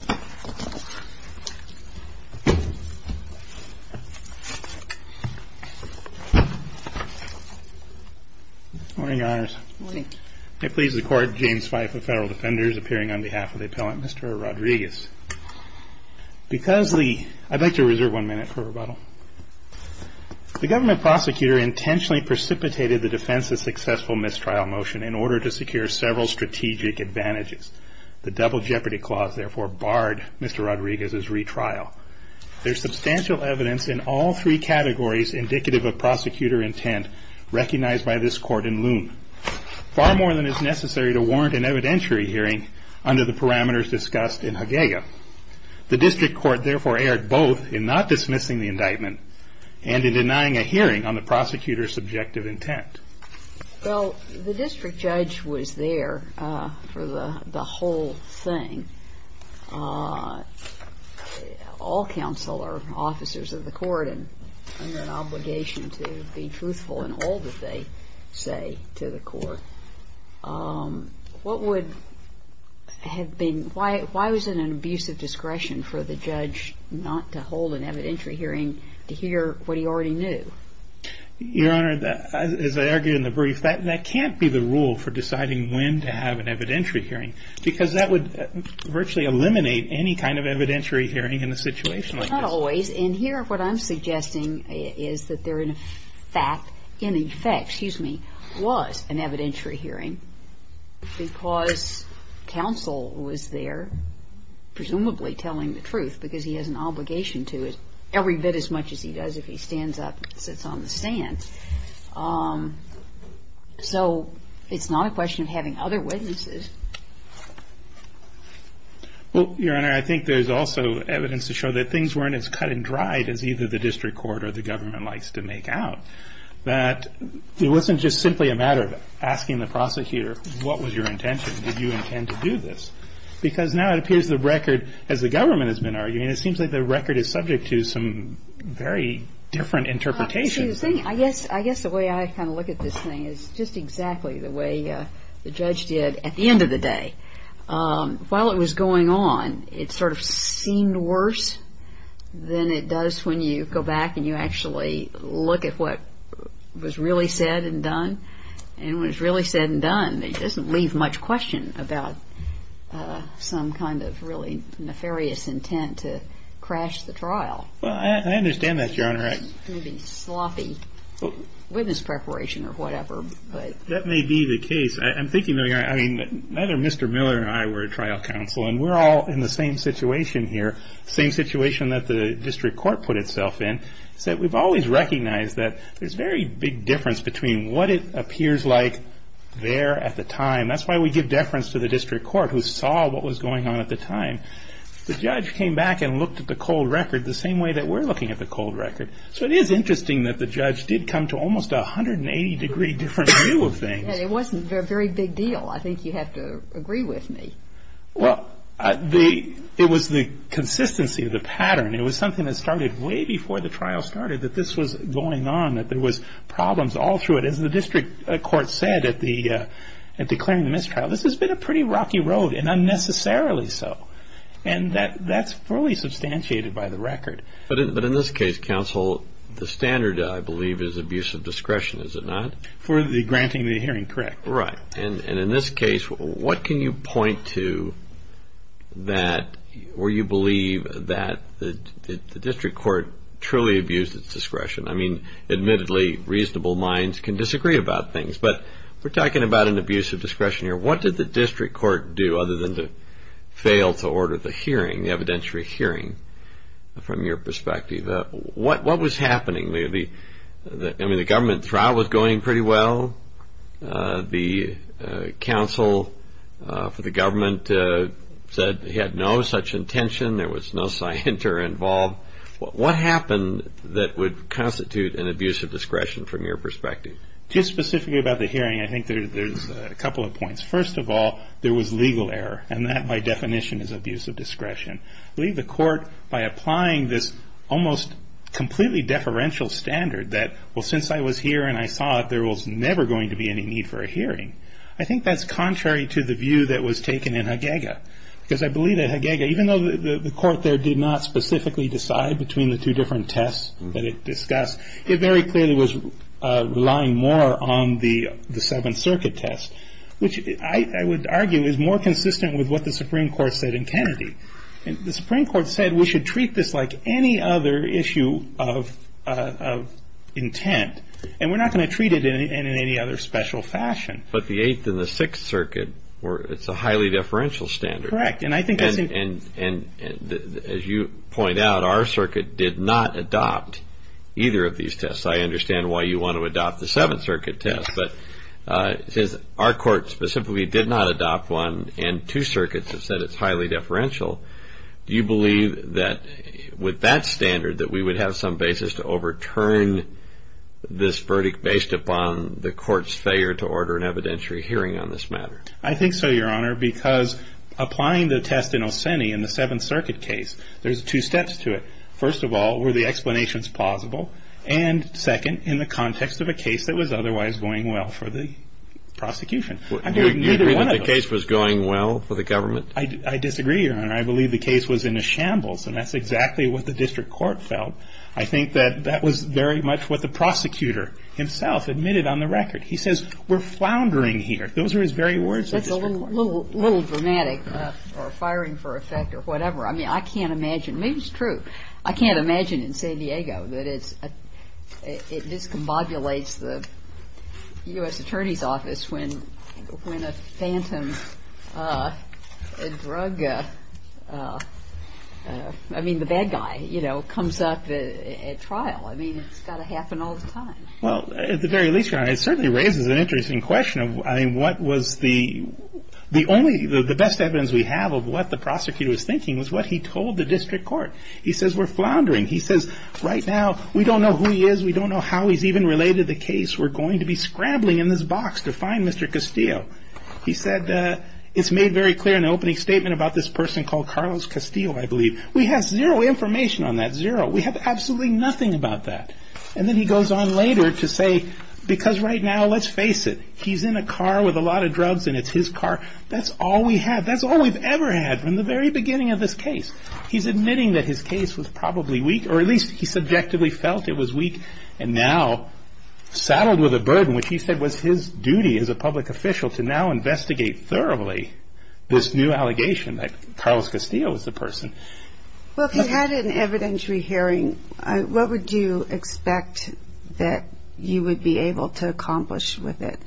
Good morning, Your Honors. Good morning. It pleases the Court, James Fife of Federal Defenders, appearing on behalf of the Appellant, Mr. Rodriguez. Because the- I'd like to reserve one minute for rebuttal. The government prosecutor intentionally precipitated the defense's successful mistrial motion in order to secure several strategic advantages. The double jeopardy clause therefore barred Mr. Rodriguez's retrial. There's substantial evidence in all three categories indicative of prosecutor intent recognized by this Court in Loon, far more than is necessary to warrant an evidentiary hearing under the parameters discussed in Haguea. The District Court therefore erred both in not dismissing the indictment and in denying a hearing on the prosecutor's subjective intent. Well, the District Judge was there for the whole thing. All counsel are officers of the Court and under an obligation to be truthful in all that they say to the Court. What would have been- why was it an abusive discretion for the judge not to hold an evidentiary hearing to hear what he already knew? Your Honor, I don't think it was an abusive discretion for the judge to have an evidentiary hearing because that would virtually eliminate any kind of evidentiary hearing in a situation like this. Not always. And here what I'm suggesting is that there in fact, in effect, excuse me, was an evidentiary hearing because counsel was there presumably telling the truth because he has an obligation to it every bit as much as he does if he stands up and sits on the stand. So it's not a question of having other witnesses. Well, Your Honor, I think there's also evidence to show that things weren't as cut and dried as either the District Court or the government likes to make out. That it wasn't just simply a matter of asking the prosecutor, what was your intention? Did you intend to do this? Because now it appears the record, as the government has been arguing, it seems like the record is subject to some very different interpretations. I guess the way I kind of look at this thing is just exactly the way the judge did at the end of the day. While it was going on, it sort of seemed worse than it does when you go back and you actually look at what was really said and done. And when it's really said and done, it doesn't leave much question about some kind of really nefarious intent to crash the trial. Well, I understand that, Your Honor. It would be sloppy witness preparation or whatever. That may be the case. I'm thinking, I mean, neither Mr. Miller nor I were a trial counsel, and we're all in the same situation here, the same situation that the District Court put itself in. So we've always recognized that there's a very big difference between what it appears like there at the time. That's why we give deference to the District Court who saw what was going on at the time. The judge came back and looked at the cold record the same way that we're looking at the cold record. So it is interesting that the judge did come to almost a 180-degree different view of things. And it wasn't a very big deal. I think you have to agree with me. Well, it was the consistency of the pattern. It was something that started way before the trial started, that this was going on, that there was problems all through it. As the and unnecessarily so. And that's fully substantiated by the record. But in this case, counsel, the standard, I believe, is abuse of discretion, is it not? For granting the hearing, correct. Right. And in this case, what can you point to that, or you believe, that the District Court truly abused its discretion? I mean, admittedly, reasonable minds can disagree about things. But we're talking about an abuse of discretion here. What did the District Court do, other than to fail to order the hearing, the evidentiary hearing, from your perspective? What was happening? I mean, the government trial was going pretty well. The counsel for the government said they had no such intention. There was no scienter involved. What happened that would constitute an abuse of discretion from your perspective? Just specifically about the hearing, I think there's a couple of points. First of all, there was legal error. And that, by definition, is abuse of discretion. I believe the court, by applying this almost completely deferential standard, that, well, since I was here and I saw it, there was never going to be any need for a hearing. I think that's contrary to the view that was taken in Haguega. Because I believe that Haguega, even though the court there did not specifically decide between the two different tests that it discussed, it very clearly was relying more on the Seventh Circuit test, which I would argue is more consistent with what the Supreme Court said in Kennedy. The Supreme Court said we should treat this like any other issue of intent, and we're not going to treat it in any other special fashion. But the Eighth and the Sixth Circuit, it's a highly deferential standard. And as you point out, our circuit did not adopt either of these tests. I understand why you want to adopt the Seventh Circuit test. But since our court specifically did not adopt one, and two circuits have said it's highly deferential, do you believe that with that standard that we would have some basis to overturn this verdict based upon the court's failure to order an evidentiary hearing on this matter? I think so, Your Honor, because applying the test in Olseni in the Seventh Circuit case, there's two steps to it. First of all, were the explanations plausible? And second, in the context of a case that was otherwise going well for the prosecution. Do you agree that the case was going well for the government? I disagree, Your Honor. I believe the case was in a shambles, and that's exactly what the district court felt. I think that that was very much what the prosecutor himself admitted on the record. He says we're floundering here. Those were his very words. That's a little dramatic or firing for effect or whatever. I mean, I can't imagine. Maybe it's true. I can't imagine in San Diego that it discombobulates the U.S. Attorney's Office when a phantom drug, I mean, the bad guy, you know, comes up at trial. I mean, it's got to happen all the time. Well, at the very least, Your Honor, it certainly raises an interesting question of what was the only, the best evidence we have of what the prosecutor was thinking was what he told the district court. He says we're floundering. He says right now we don't know who he is. We don't know how he's even related to the case. We're going to be scrambling in this box to find Mr. Castillo. He said it's made very clear in the opening statement about this person called Carlos Castillo, I believe. We have zero information on that, zero. We have absolutely nothing about that. And then he goes on later to say because right now, let's face it, he's in a car with a lot of drugs and it's his car. That's all we have. That's all we've ever had from the very beginning of this case. He's admitting that his case was probably weak or at least he subjectively felt it was weak and now saddled with a burden which he said was his duty as a public official to now investigate thoroughly this new allegation that Carlos Castillo was the person. Well, if you had an evidentiary hearing, what would you expect that you would be able to accomplish with it?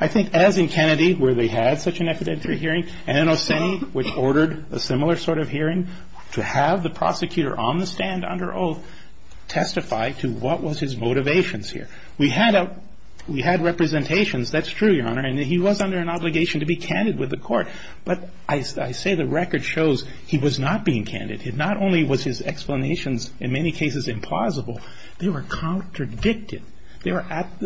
I think as in Kennedy, where they had such an evidentiary hearing, and in Oseni, which ordered a similar sort of hearing, to have the prosecutor on the stand under oath testify to what was his motivations here. We had representations. That's true, Your Honor, and he was under an obligation to be candid with the court. But I say the record shows he was not being candid. Not only was his explanations in many cases implausible, they were contradicted.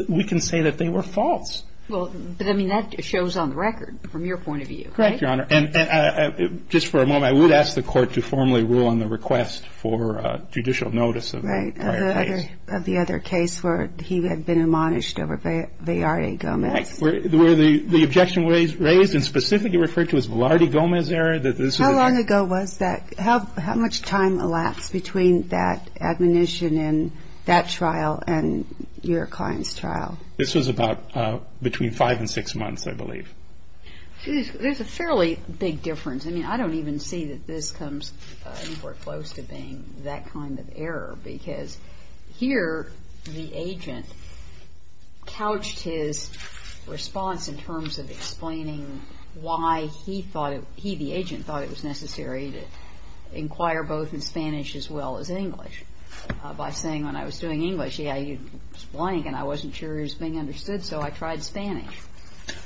We can say that they were false. But, I mean, that shows on the record from your point of view, right? Correct, Your Honor, and just for a moment, I would ask the court to formally rule on the request for judicial notice of the prior case. Right, of the other case where he had been admonished over Valley Gomez. Correct, where the objection was raised and specifically referred to as Valley Gomez error. How long ago was that? How much time elapsed between that admonition and that trial and your client's trial? This was about between five and six months, I believe. There's a fairly big difference. I mean, I don't even see that this comes anywhere close to being that kind of error, because here the agent couched his response in terms of explaining why he thought it, he, the agent, thought it was necessary to inquire both in Spanish as well as English by saying when I was doing English, yeah, you'd blank and I wasn't sure it was being understood, so I tried Spanish.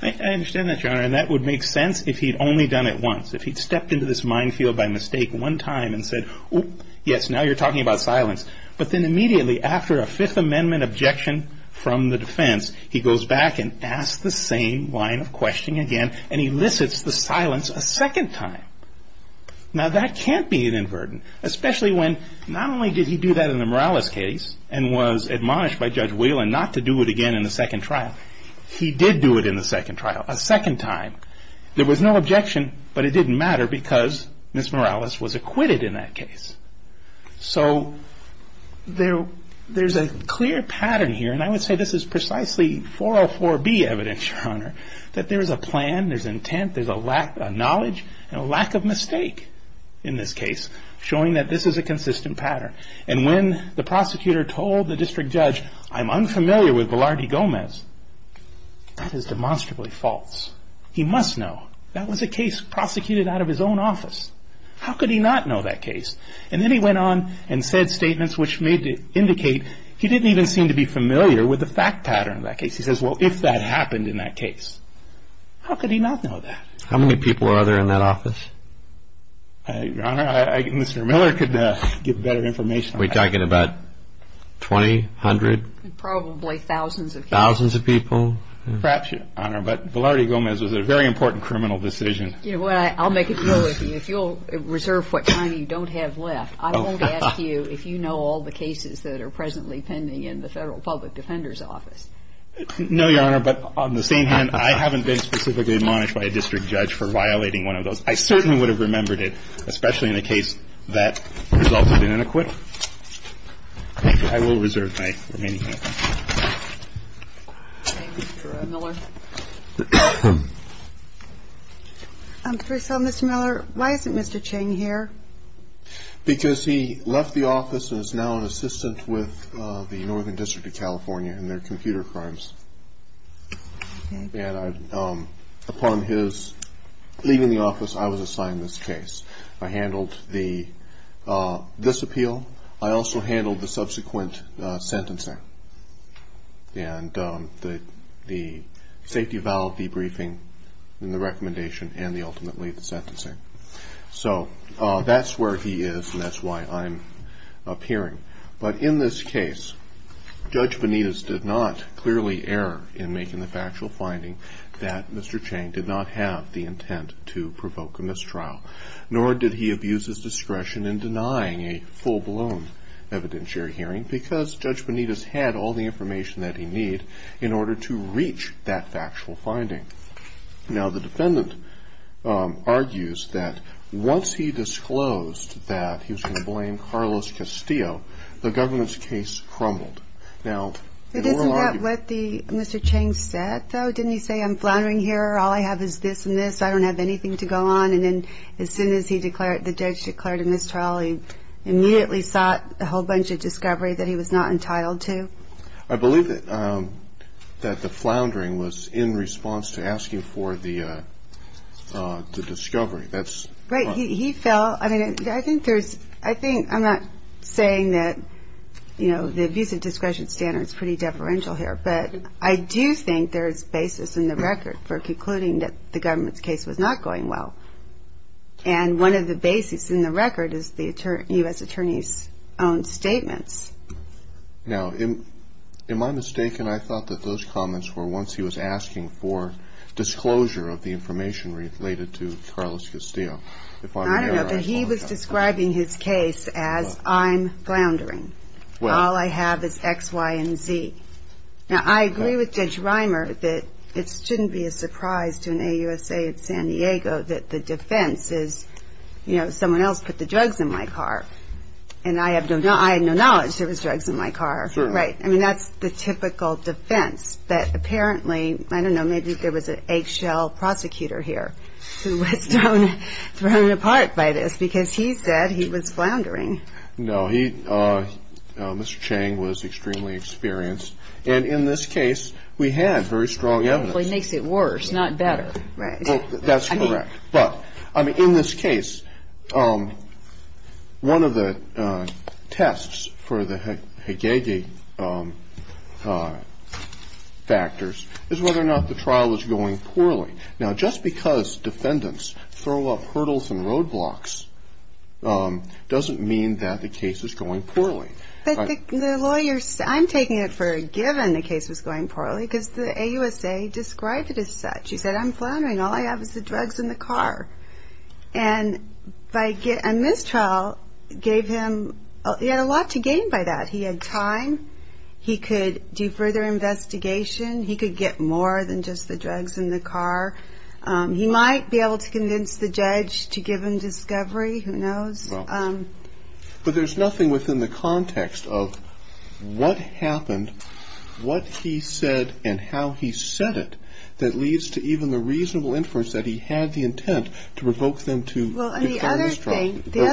I understand that, Your Honor, and that would make sense if he'd only done it once. If he'd stepped into this minefield by mistake one time and said, yes, now you're talking about silence, but then immediately after a Fifth Amendment objection from the defense, he goes back and asks the same line of questioning again and elicits the silence a second time. Now, that can't be inadvertent, especially when not only did he do that in the Morales case and was admonished by Judge Whelan not to do it again in the second trial. He did do it in the second trial a second time. There was no objection, but it didn't matter because Ms. Morales was acquitted in that case. So there's a clear pattern here, and I would say this is precisely 404B evidence, Your Honor, that there is a plan, there's intent, there's a lack of knowledge and a lack of mistake in this case showing that this is a consistent pattern. And when the prosecutor told the district judge, I'm unfamiliar with Velarde Gomez, that is demonstrably false. He must know. That was a case prosecuted out of his own office. How could he not know that case? And then he went on and said statements which may indicate he didn't even seem to be familiar with the fact pattern of that case. He says, well, if that happened in that case, how could he not know that? How many people are there in that office? Your Honor, Mr. Miller could give better information on that. Are we talking about 20, 100? Probably thousands of people. Perhaps, Your Honor, but Velarde Gomez was a very important criminal decision. I'll make a deal with you. If you'll reserve what time you don't have left, I won't ask you if you know all the cases that are presently pending in the Federal Public Defender's Office. No, Your Honor, but on the same hand, I haven't been specifically admonished by a district judge for violating one of those. I certainly would have remembered it, especially in a case that resulted in an acquittal. I will reserve my remaining time. Thank you, Mr. Miller. First of all, Mr. Miller, why isn't Mr. Ching here? Because he left the office and is now an assistant with the Northern District of California in their computer crimes. And upon his leaving the office, I was assigned this case. I handled this appeal. I also handled the subsequent sentencing and the safety of the briefing and the recommendation and ultimately the sentencing. So that's where he is and that's why I'm appearing. But in this case, Judge Benitez did not clearly err in making the factual finding that Mr. Ching did not have the intent to provoke a mistrial, nor did he abuse his discretion in denying a full-blown evidentiary hearing, because Judge Benitez had all the information that he needed in order to reach that factual finding. Now, the defendant argues that once he disclosed that he was going to blame Carlos Castillo, the government's case crumbled. Now, in your argument ---- But isn't that what Mr. Ching said, though? Didn't he say, I'm flattering here, all I have is this and this, I don't have anything to go on? And then as soon as the judge declared a mistrial, he immediately sought a whole bunch of discovery that he was not entitled to? I believe that the floundering was in response to asking for the discovery. Right, he fell. I think there's ---- I'm not saying that the abuse of discretion standard is pretty deferential here, but I do think there's basis in the record for concluding that the government's case was not going well. And one of the basis in the record is the U.S. Attorney's own statements. Now, am I mistaken? I thought that those comments were once he was asking for disclosure of the information related to Carlos Castillo. I don't know, but he was describing his case as I'm floundering, all I have is X, Y, and Z. Now, I agree with Judge Reimer that it shouldn't be a surprise to an AUSA in San Diego that the defense is, you know, someone else put the drugs in my car, and I have no knowledge there was drugs in my car. Right. I mean, that's the typical defense that apparently, I don't know, maybe there was an eggshell prosecutor here who was thrown apart by this because he said he was floundering. No. He, Mr. Chang was extremely experienced. And in this case, we had very strong evidence. Well, he makes it worse, not better. Right. That's correct. But, I mean, in this case, one of the tests for the Hegegi factors is whether or not the trial was going poorly. Now, just because defendants throw up hurdles and roadblocks doesn't mean that the case is going poorly. But the lawyers, I'm taking it for a given the case was going poorly because the AUSA described it as such. He said, I'm floundering, all I have is the drugs in the car. And this trial gave him, he had a lot to gain by that. He had time. He could do further investigation. He could get more than just the drugs in the car. He might be able to convince the judge to give him discovery. Who knows? But there's nothing within the context of what happened, what he said, and how he said it that leads to even the reasonable inference that he had the intent to revoke them to prove for a mistrial. Well, and the other thing, the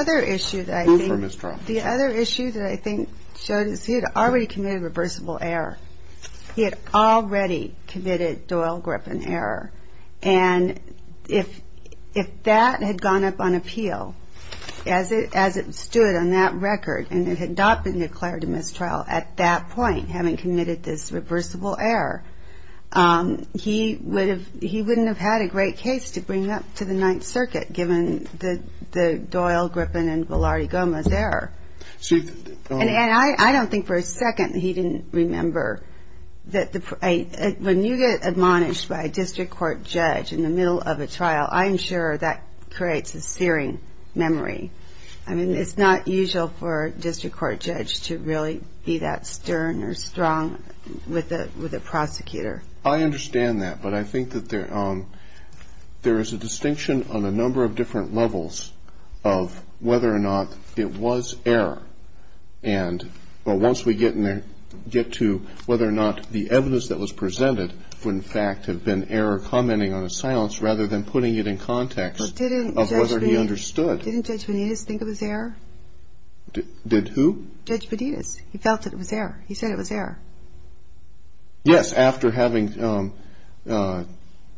other issue that I think showed is he had already committed a reversible error. He had already committed Doyle-Griffin error. And if that had gone up on appeal, as it stood on that record, and it had not been declared a mistrial at that point, having committed this reversible error, he wouldn't have had a great case to bring up to the Ninth Circuit, given the Doyle-Griffin and Velarde-Gomez error. And I don't think for a second he didn't remember that when you get admonished by a district court judge in the middle of a trial, I'm sure that creates a searing memory. I mean, it's not usual for a district court judge to really be that stern or strong with a prosecutor. I understand that. But I think that there is a distinction on a number of different levels of whether or not it was error. And once we get to whether or not the evidence that was presented would, in fact, have been error commenting on a silence rather than putting it in context of whether he understood. But didn't Judge Benitez think it was error? Did who? Judge Benitez. He felt that it was error. He said it was error. Yes, after having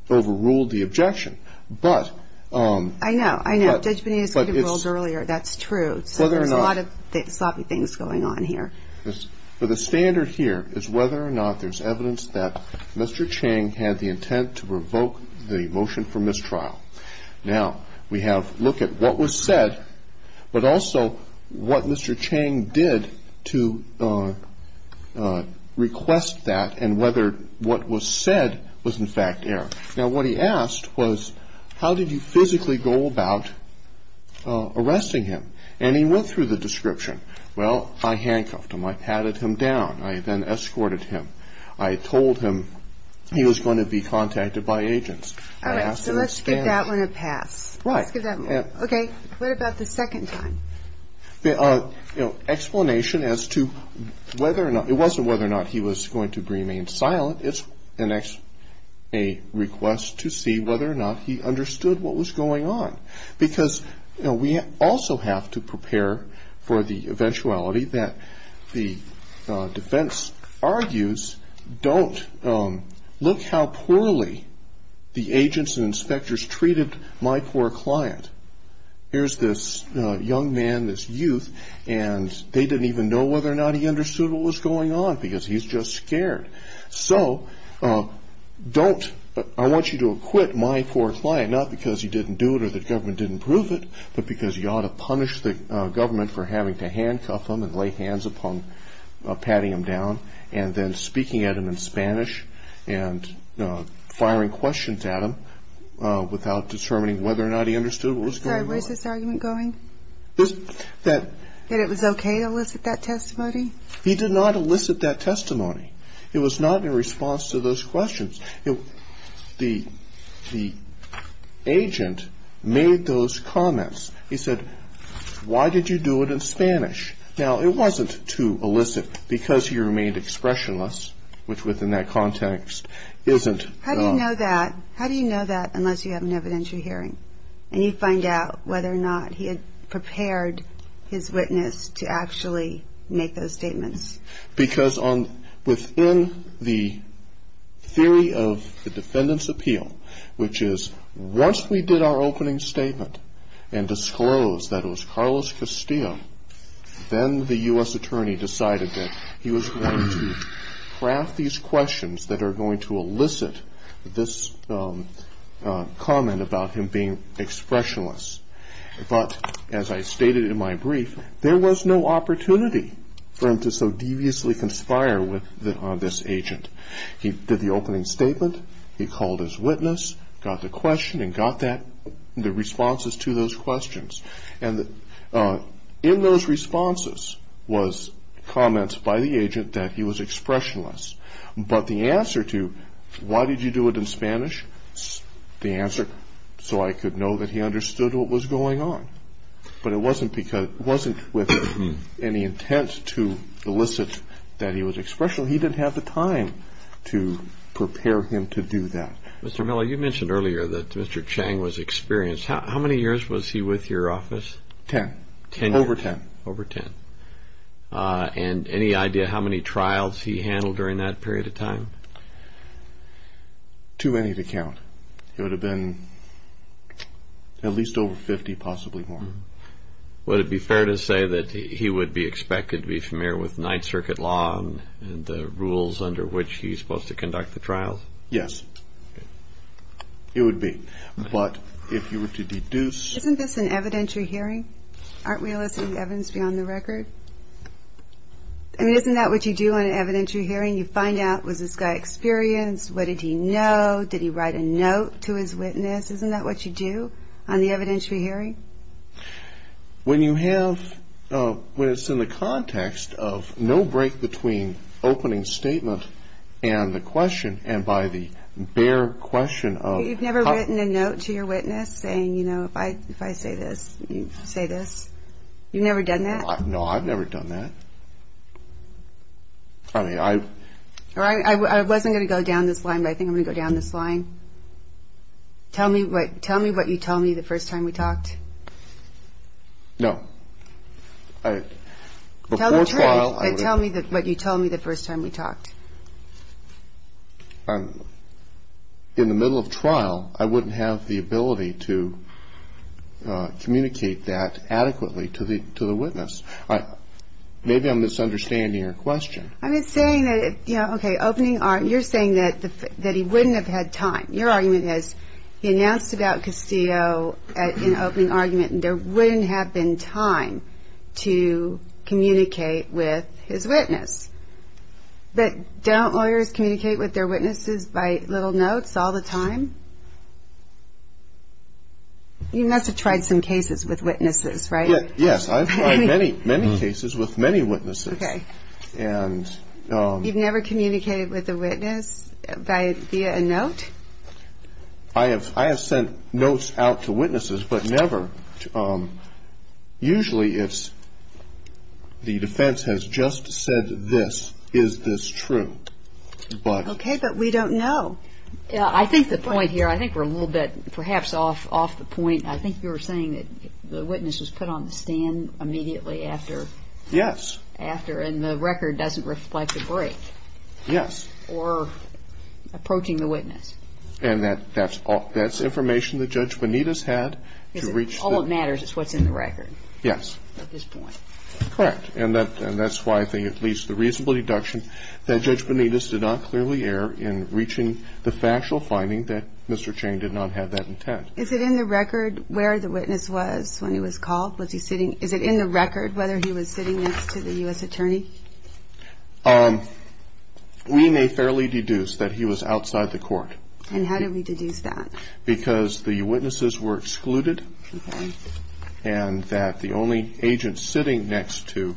overruled the objection. But ‑‑ I know. I know. Judge Benitez could have ruled earlier. That's true. So there's a lot of sloppy things going on here. But the standard here is whether or not there's evidence that Mr. Chang had the intent to revoke the motion for mistrial. Now, we have a look at what was said, but also what Mr. Chang did to request that and whether what was said was, in fact, error. Now, what he asked was, how did you physically go about arresting him? And he went through the description. Well, I handcuffed him. I patted him down. I then escorted him. I told him he was going to be contacted by agents. All right. So let's give that one a pass. Right. Let's give that one a pass. Okay. What about the second time? The explanation as to whether or not ‑‑ it wasn't whether or not he was going to remain silent. It's a request to see whether or not he understood what was going on. Because we also have to prepare for the eventuality that the defense argues, don't look how poorly the agents and inspectors treated my poor client. Here's this young man, this youth, and they didn't even know whether or not he understood what was going on because he's just scared. So don't ‑‑ I want you to acquit my poor client, not because he didn't do it or the government didn't prove it, but because you ought to punish the government for having to handcuff him and lay hands upon patting him down and then speaking at him in Spanish and firing questions at him without determining whether or not he understood what was going on. I'm sorry. Where's this argument going? That it was okay to elicit that testimony? He did not elicit that testimony. It was not in response to those questions. The agent made those comments. He said, why did you do it in Spanish? Now, it wasn't to elicit because he remained expressionless, which within that context isn't ‑‑ How do you know that unless you have an evidentiary hearing and you find out whether or not he had prepared his witness to actually make those statements? Because within the theory of the defendant's appeal, which is once we did our opening statement and disclosed that it was Carlos Castillo, then the U.S. attorney decided that he was going to craft these questions that are going to elicit this comment about him being expressionless. But as I stated in my brief, there was no opportunity for him to so deviously conspire on this agent. He did the opening statement, he called his witness, got the question and got the responses to those questions. And in those responses was comments by the agent that he was expressionless. But the answer to, why did you do it in Spanish, the answer, so I could know that he understood what was going on. But it wasn't with any intent to elicit that he was expressionless. He didn't have the time to prepare him to do that. Mr. Miller, you mentioned earlier that Mr. Chang was experienced. How many years was he with your office? Ten. Over ten. Over ten. And any idea how many trials he handled during that period of time? Too many to count. It would have been at least over 50, possibly more. Would it be fair to say that he would be expected to be familiar with Ninth Circuit law and the rules under which he's supposed to conduct the trials? Yes. It would be. But if you were to deduce... Isn't this an evidentiary hearing? Aren't we eliciting evidence beyond the record? I mean, isn't that what you do on an evidentiary hearing? You find out, was this guy experienced? What did he know? Did he write a note to his witness? Isn't that what you do on the evidentiary hearing? When you have... When it's in the context of no break between opening statement and the question, and by the bare question of... You've never written a note to your witness saying, you know, if I say this, you say this? You've never done that? No, I've never done that. I mean, I... I wasn't going to go down this line, but I think I'm going to go down this line. Tell me what you told me the first time we talked. No. Before trial... Tell me what you told me the first time we talked. In the middle of trial, I wouldn't have the ability to communicate that adequately to the witness. Maybe I'm misunderstanding your question. I'm just saying that, you know, okay, opening... You're saying that he wouldn't have had time. Your argument is he announced about Castillo in opening argument, and there wouldn't have been time to communicate with his witness. But don't lawyers communicate with their witnesses by little notes all the time? You must have tried some cases with witnesses, right? Yes, I've tried many cases with many witnesses. Okay. You've never communicated with a witness via a note? I have sent notes out to witnesses, but never... Usually it's the defense has just said this. Is this true? Okay, but we don't know. I think the point here, I think we're a little bit perhaps off the point. I think you were saying that the witness was put on the stand immediately after... Yes. ...after, and the record doesn't reflect the break. Yes. Or approaching the witness. And that's information that Judge Benitez had to reach the... All that matters is what's in the record. Yes. At this point. Correct. And that's why I think it leaves the reasonable deduction that Judge Benitez did not clearly err in reaching the factual finding that Mr. Chain did not have that intent. Is it in the record where the witness was when he was called? Was he sitting... Is it in the record whether he was sitting next to the U.S. attorney? We may fairly deduce that he was outside the court. And how do we deduce that? Because the witnesses were excluded. Okay. And that the only agent sitting next to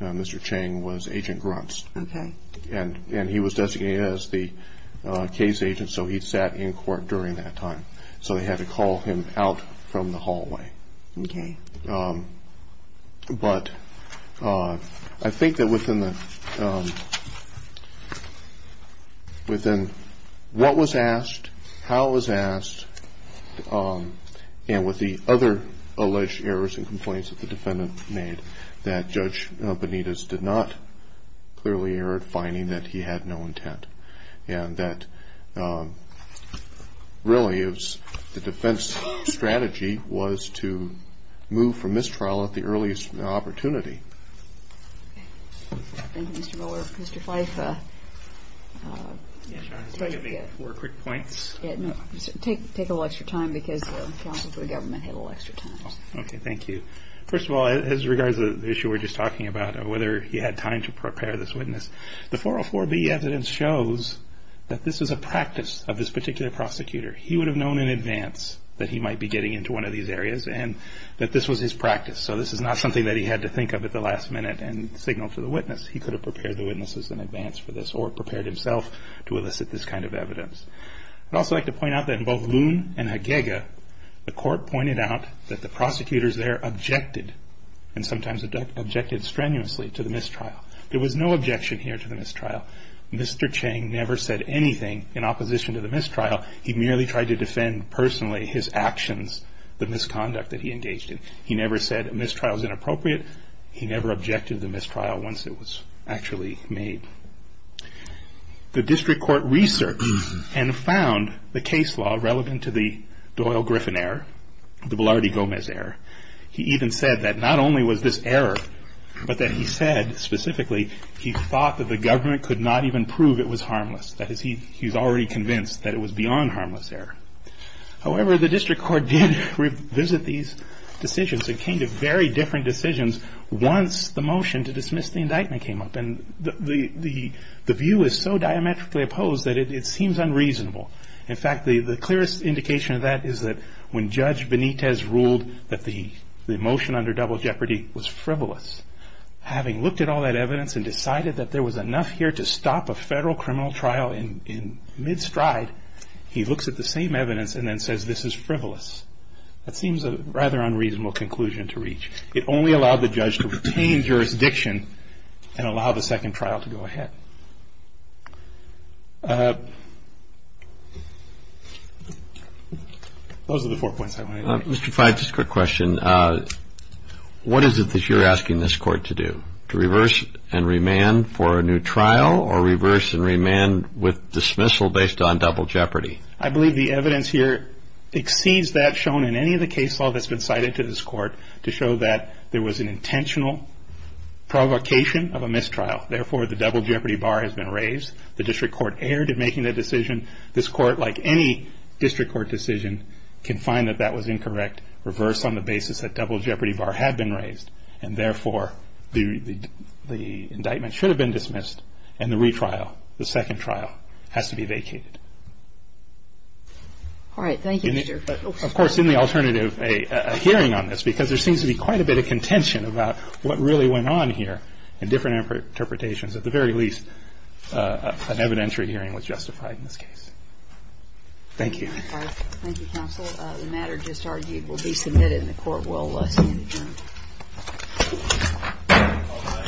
Mr. Chain was Agent Gruntz. Okay. And he was designated as the case agent, so he sat in court during that time. So they had to call him out from the hallway. Okay. But I think that within what was asked, how it was asked, and with the other alleged errors and complaints that the defendant made, that Judge Benitez did not clearly err at finding that he had no intent. And that really the defense strategy was to move from mistrial at the earliest opportunity. Thank you, Mr. Miller. Mr. Feiffer. Can you give me four quick points? Take a little extra time because the counsel for the government had a little extra time. Okay, thank you. First of all, as regards to the issue we were just talking about, whether he had time to prepare this witness, the 404B evidence shows that this is a practice of this particular prosecutor. He would have known in advance that he might be getting into one of these areas and that this was his practice. So this is not something that he had to think of at the last minute and signal to the witness. He could have prepared the witnesses in advance for this or prepared himself to elicit this kind of evidence. I'd also like to point out that in both Loon and Haguega, the court pointed out that the prosecutors there objected and sometimes objected strenuously to the mistrial. There was no objection here to the mistrial. Mr. Chang never said anything in opposition to the mistrial. He merely tried to defend personally his actions, the misconduct that he engaged in. He never said a mistrial is inappropriate. He never objected to the mistrial once it was actually made. The district court researched and found the case law relevant to the Doyle-Griffin error, the Velarde-Gomez error. He even said that not only was this error, but that he said specifically he thought that the government could not even prove it was harmless. That is, he was already convinced that it was beyond harmless error. However, the district court did revisit these decisions and came to very different decisions once the motion to dismiss the indictment came up. The view is so diametrically opposed that it seems unreasonable. In fact, the clearest indication of that is that when Judge Benitez ruled that the motion under double jeopardy was frivolous, having looked at all that evidence and decided that there was enough here to stop a federal criminal trial in mid-stride, he looks at the same evidence and then says this is frivolous. That seems a rather unreasonable conclusion to reach. It only allowed the judge to retain jurisdiction and allow the second trial to go ahead. Those are the four points I wanted to make. Mr. Fyfe, just a quick question. What is it that you're asking this court to do, to reverse and remand for a new trial or reverse and remand with dismissal based on double jeopardy? I believe the evidence here exceeds that shown in any of the case law that's been cited to this court to show that there was an intentional provocation of a mistrial. Therefore, the double jeopardy bar has been raised. The district court erred in making that decision. This court, like any district court decision, can find that that was incorrect, reverse on the basis that double jeopardy bar had been raised, and therefore the indictment should have been dismissed and the retrial, the second trial, has to be vacated. All right. Thank you, Mr. Fyfe. Of course, in the alternative, a hearing on this, because there seems to be quite a bit of contention about what really went on here. In different interpretations, at the very least, an evidentiary hearing was justified in this case. Thank you. Thank you, counsel. The matter just argued will be submitted and the court will stand adjourned.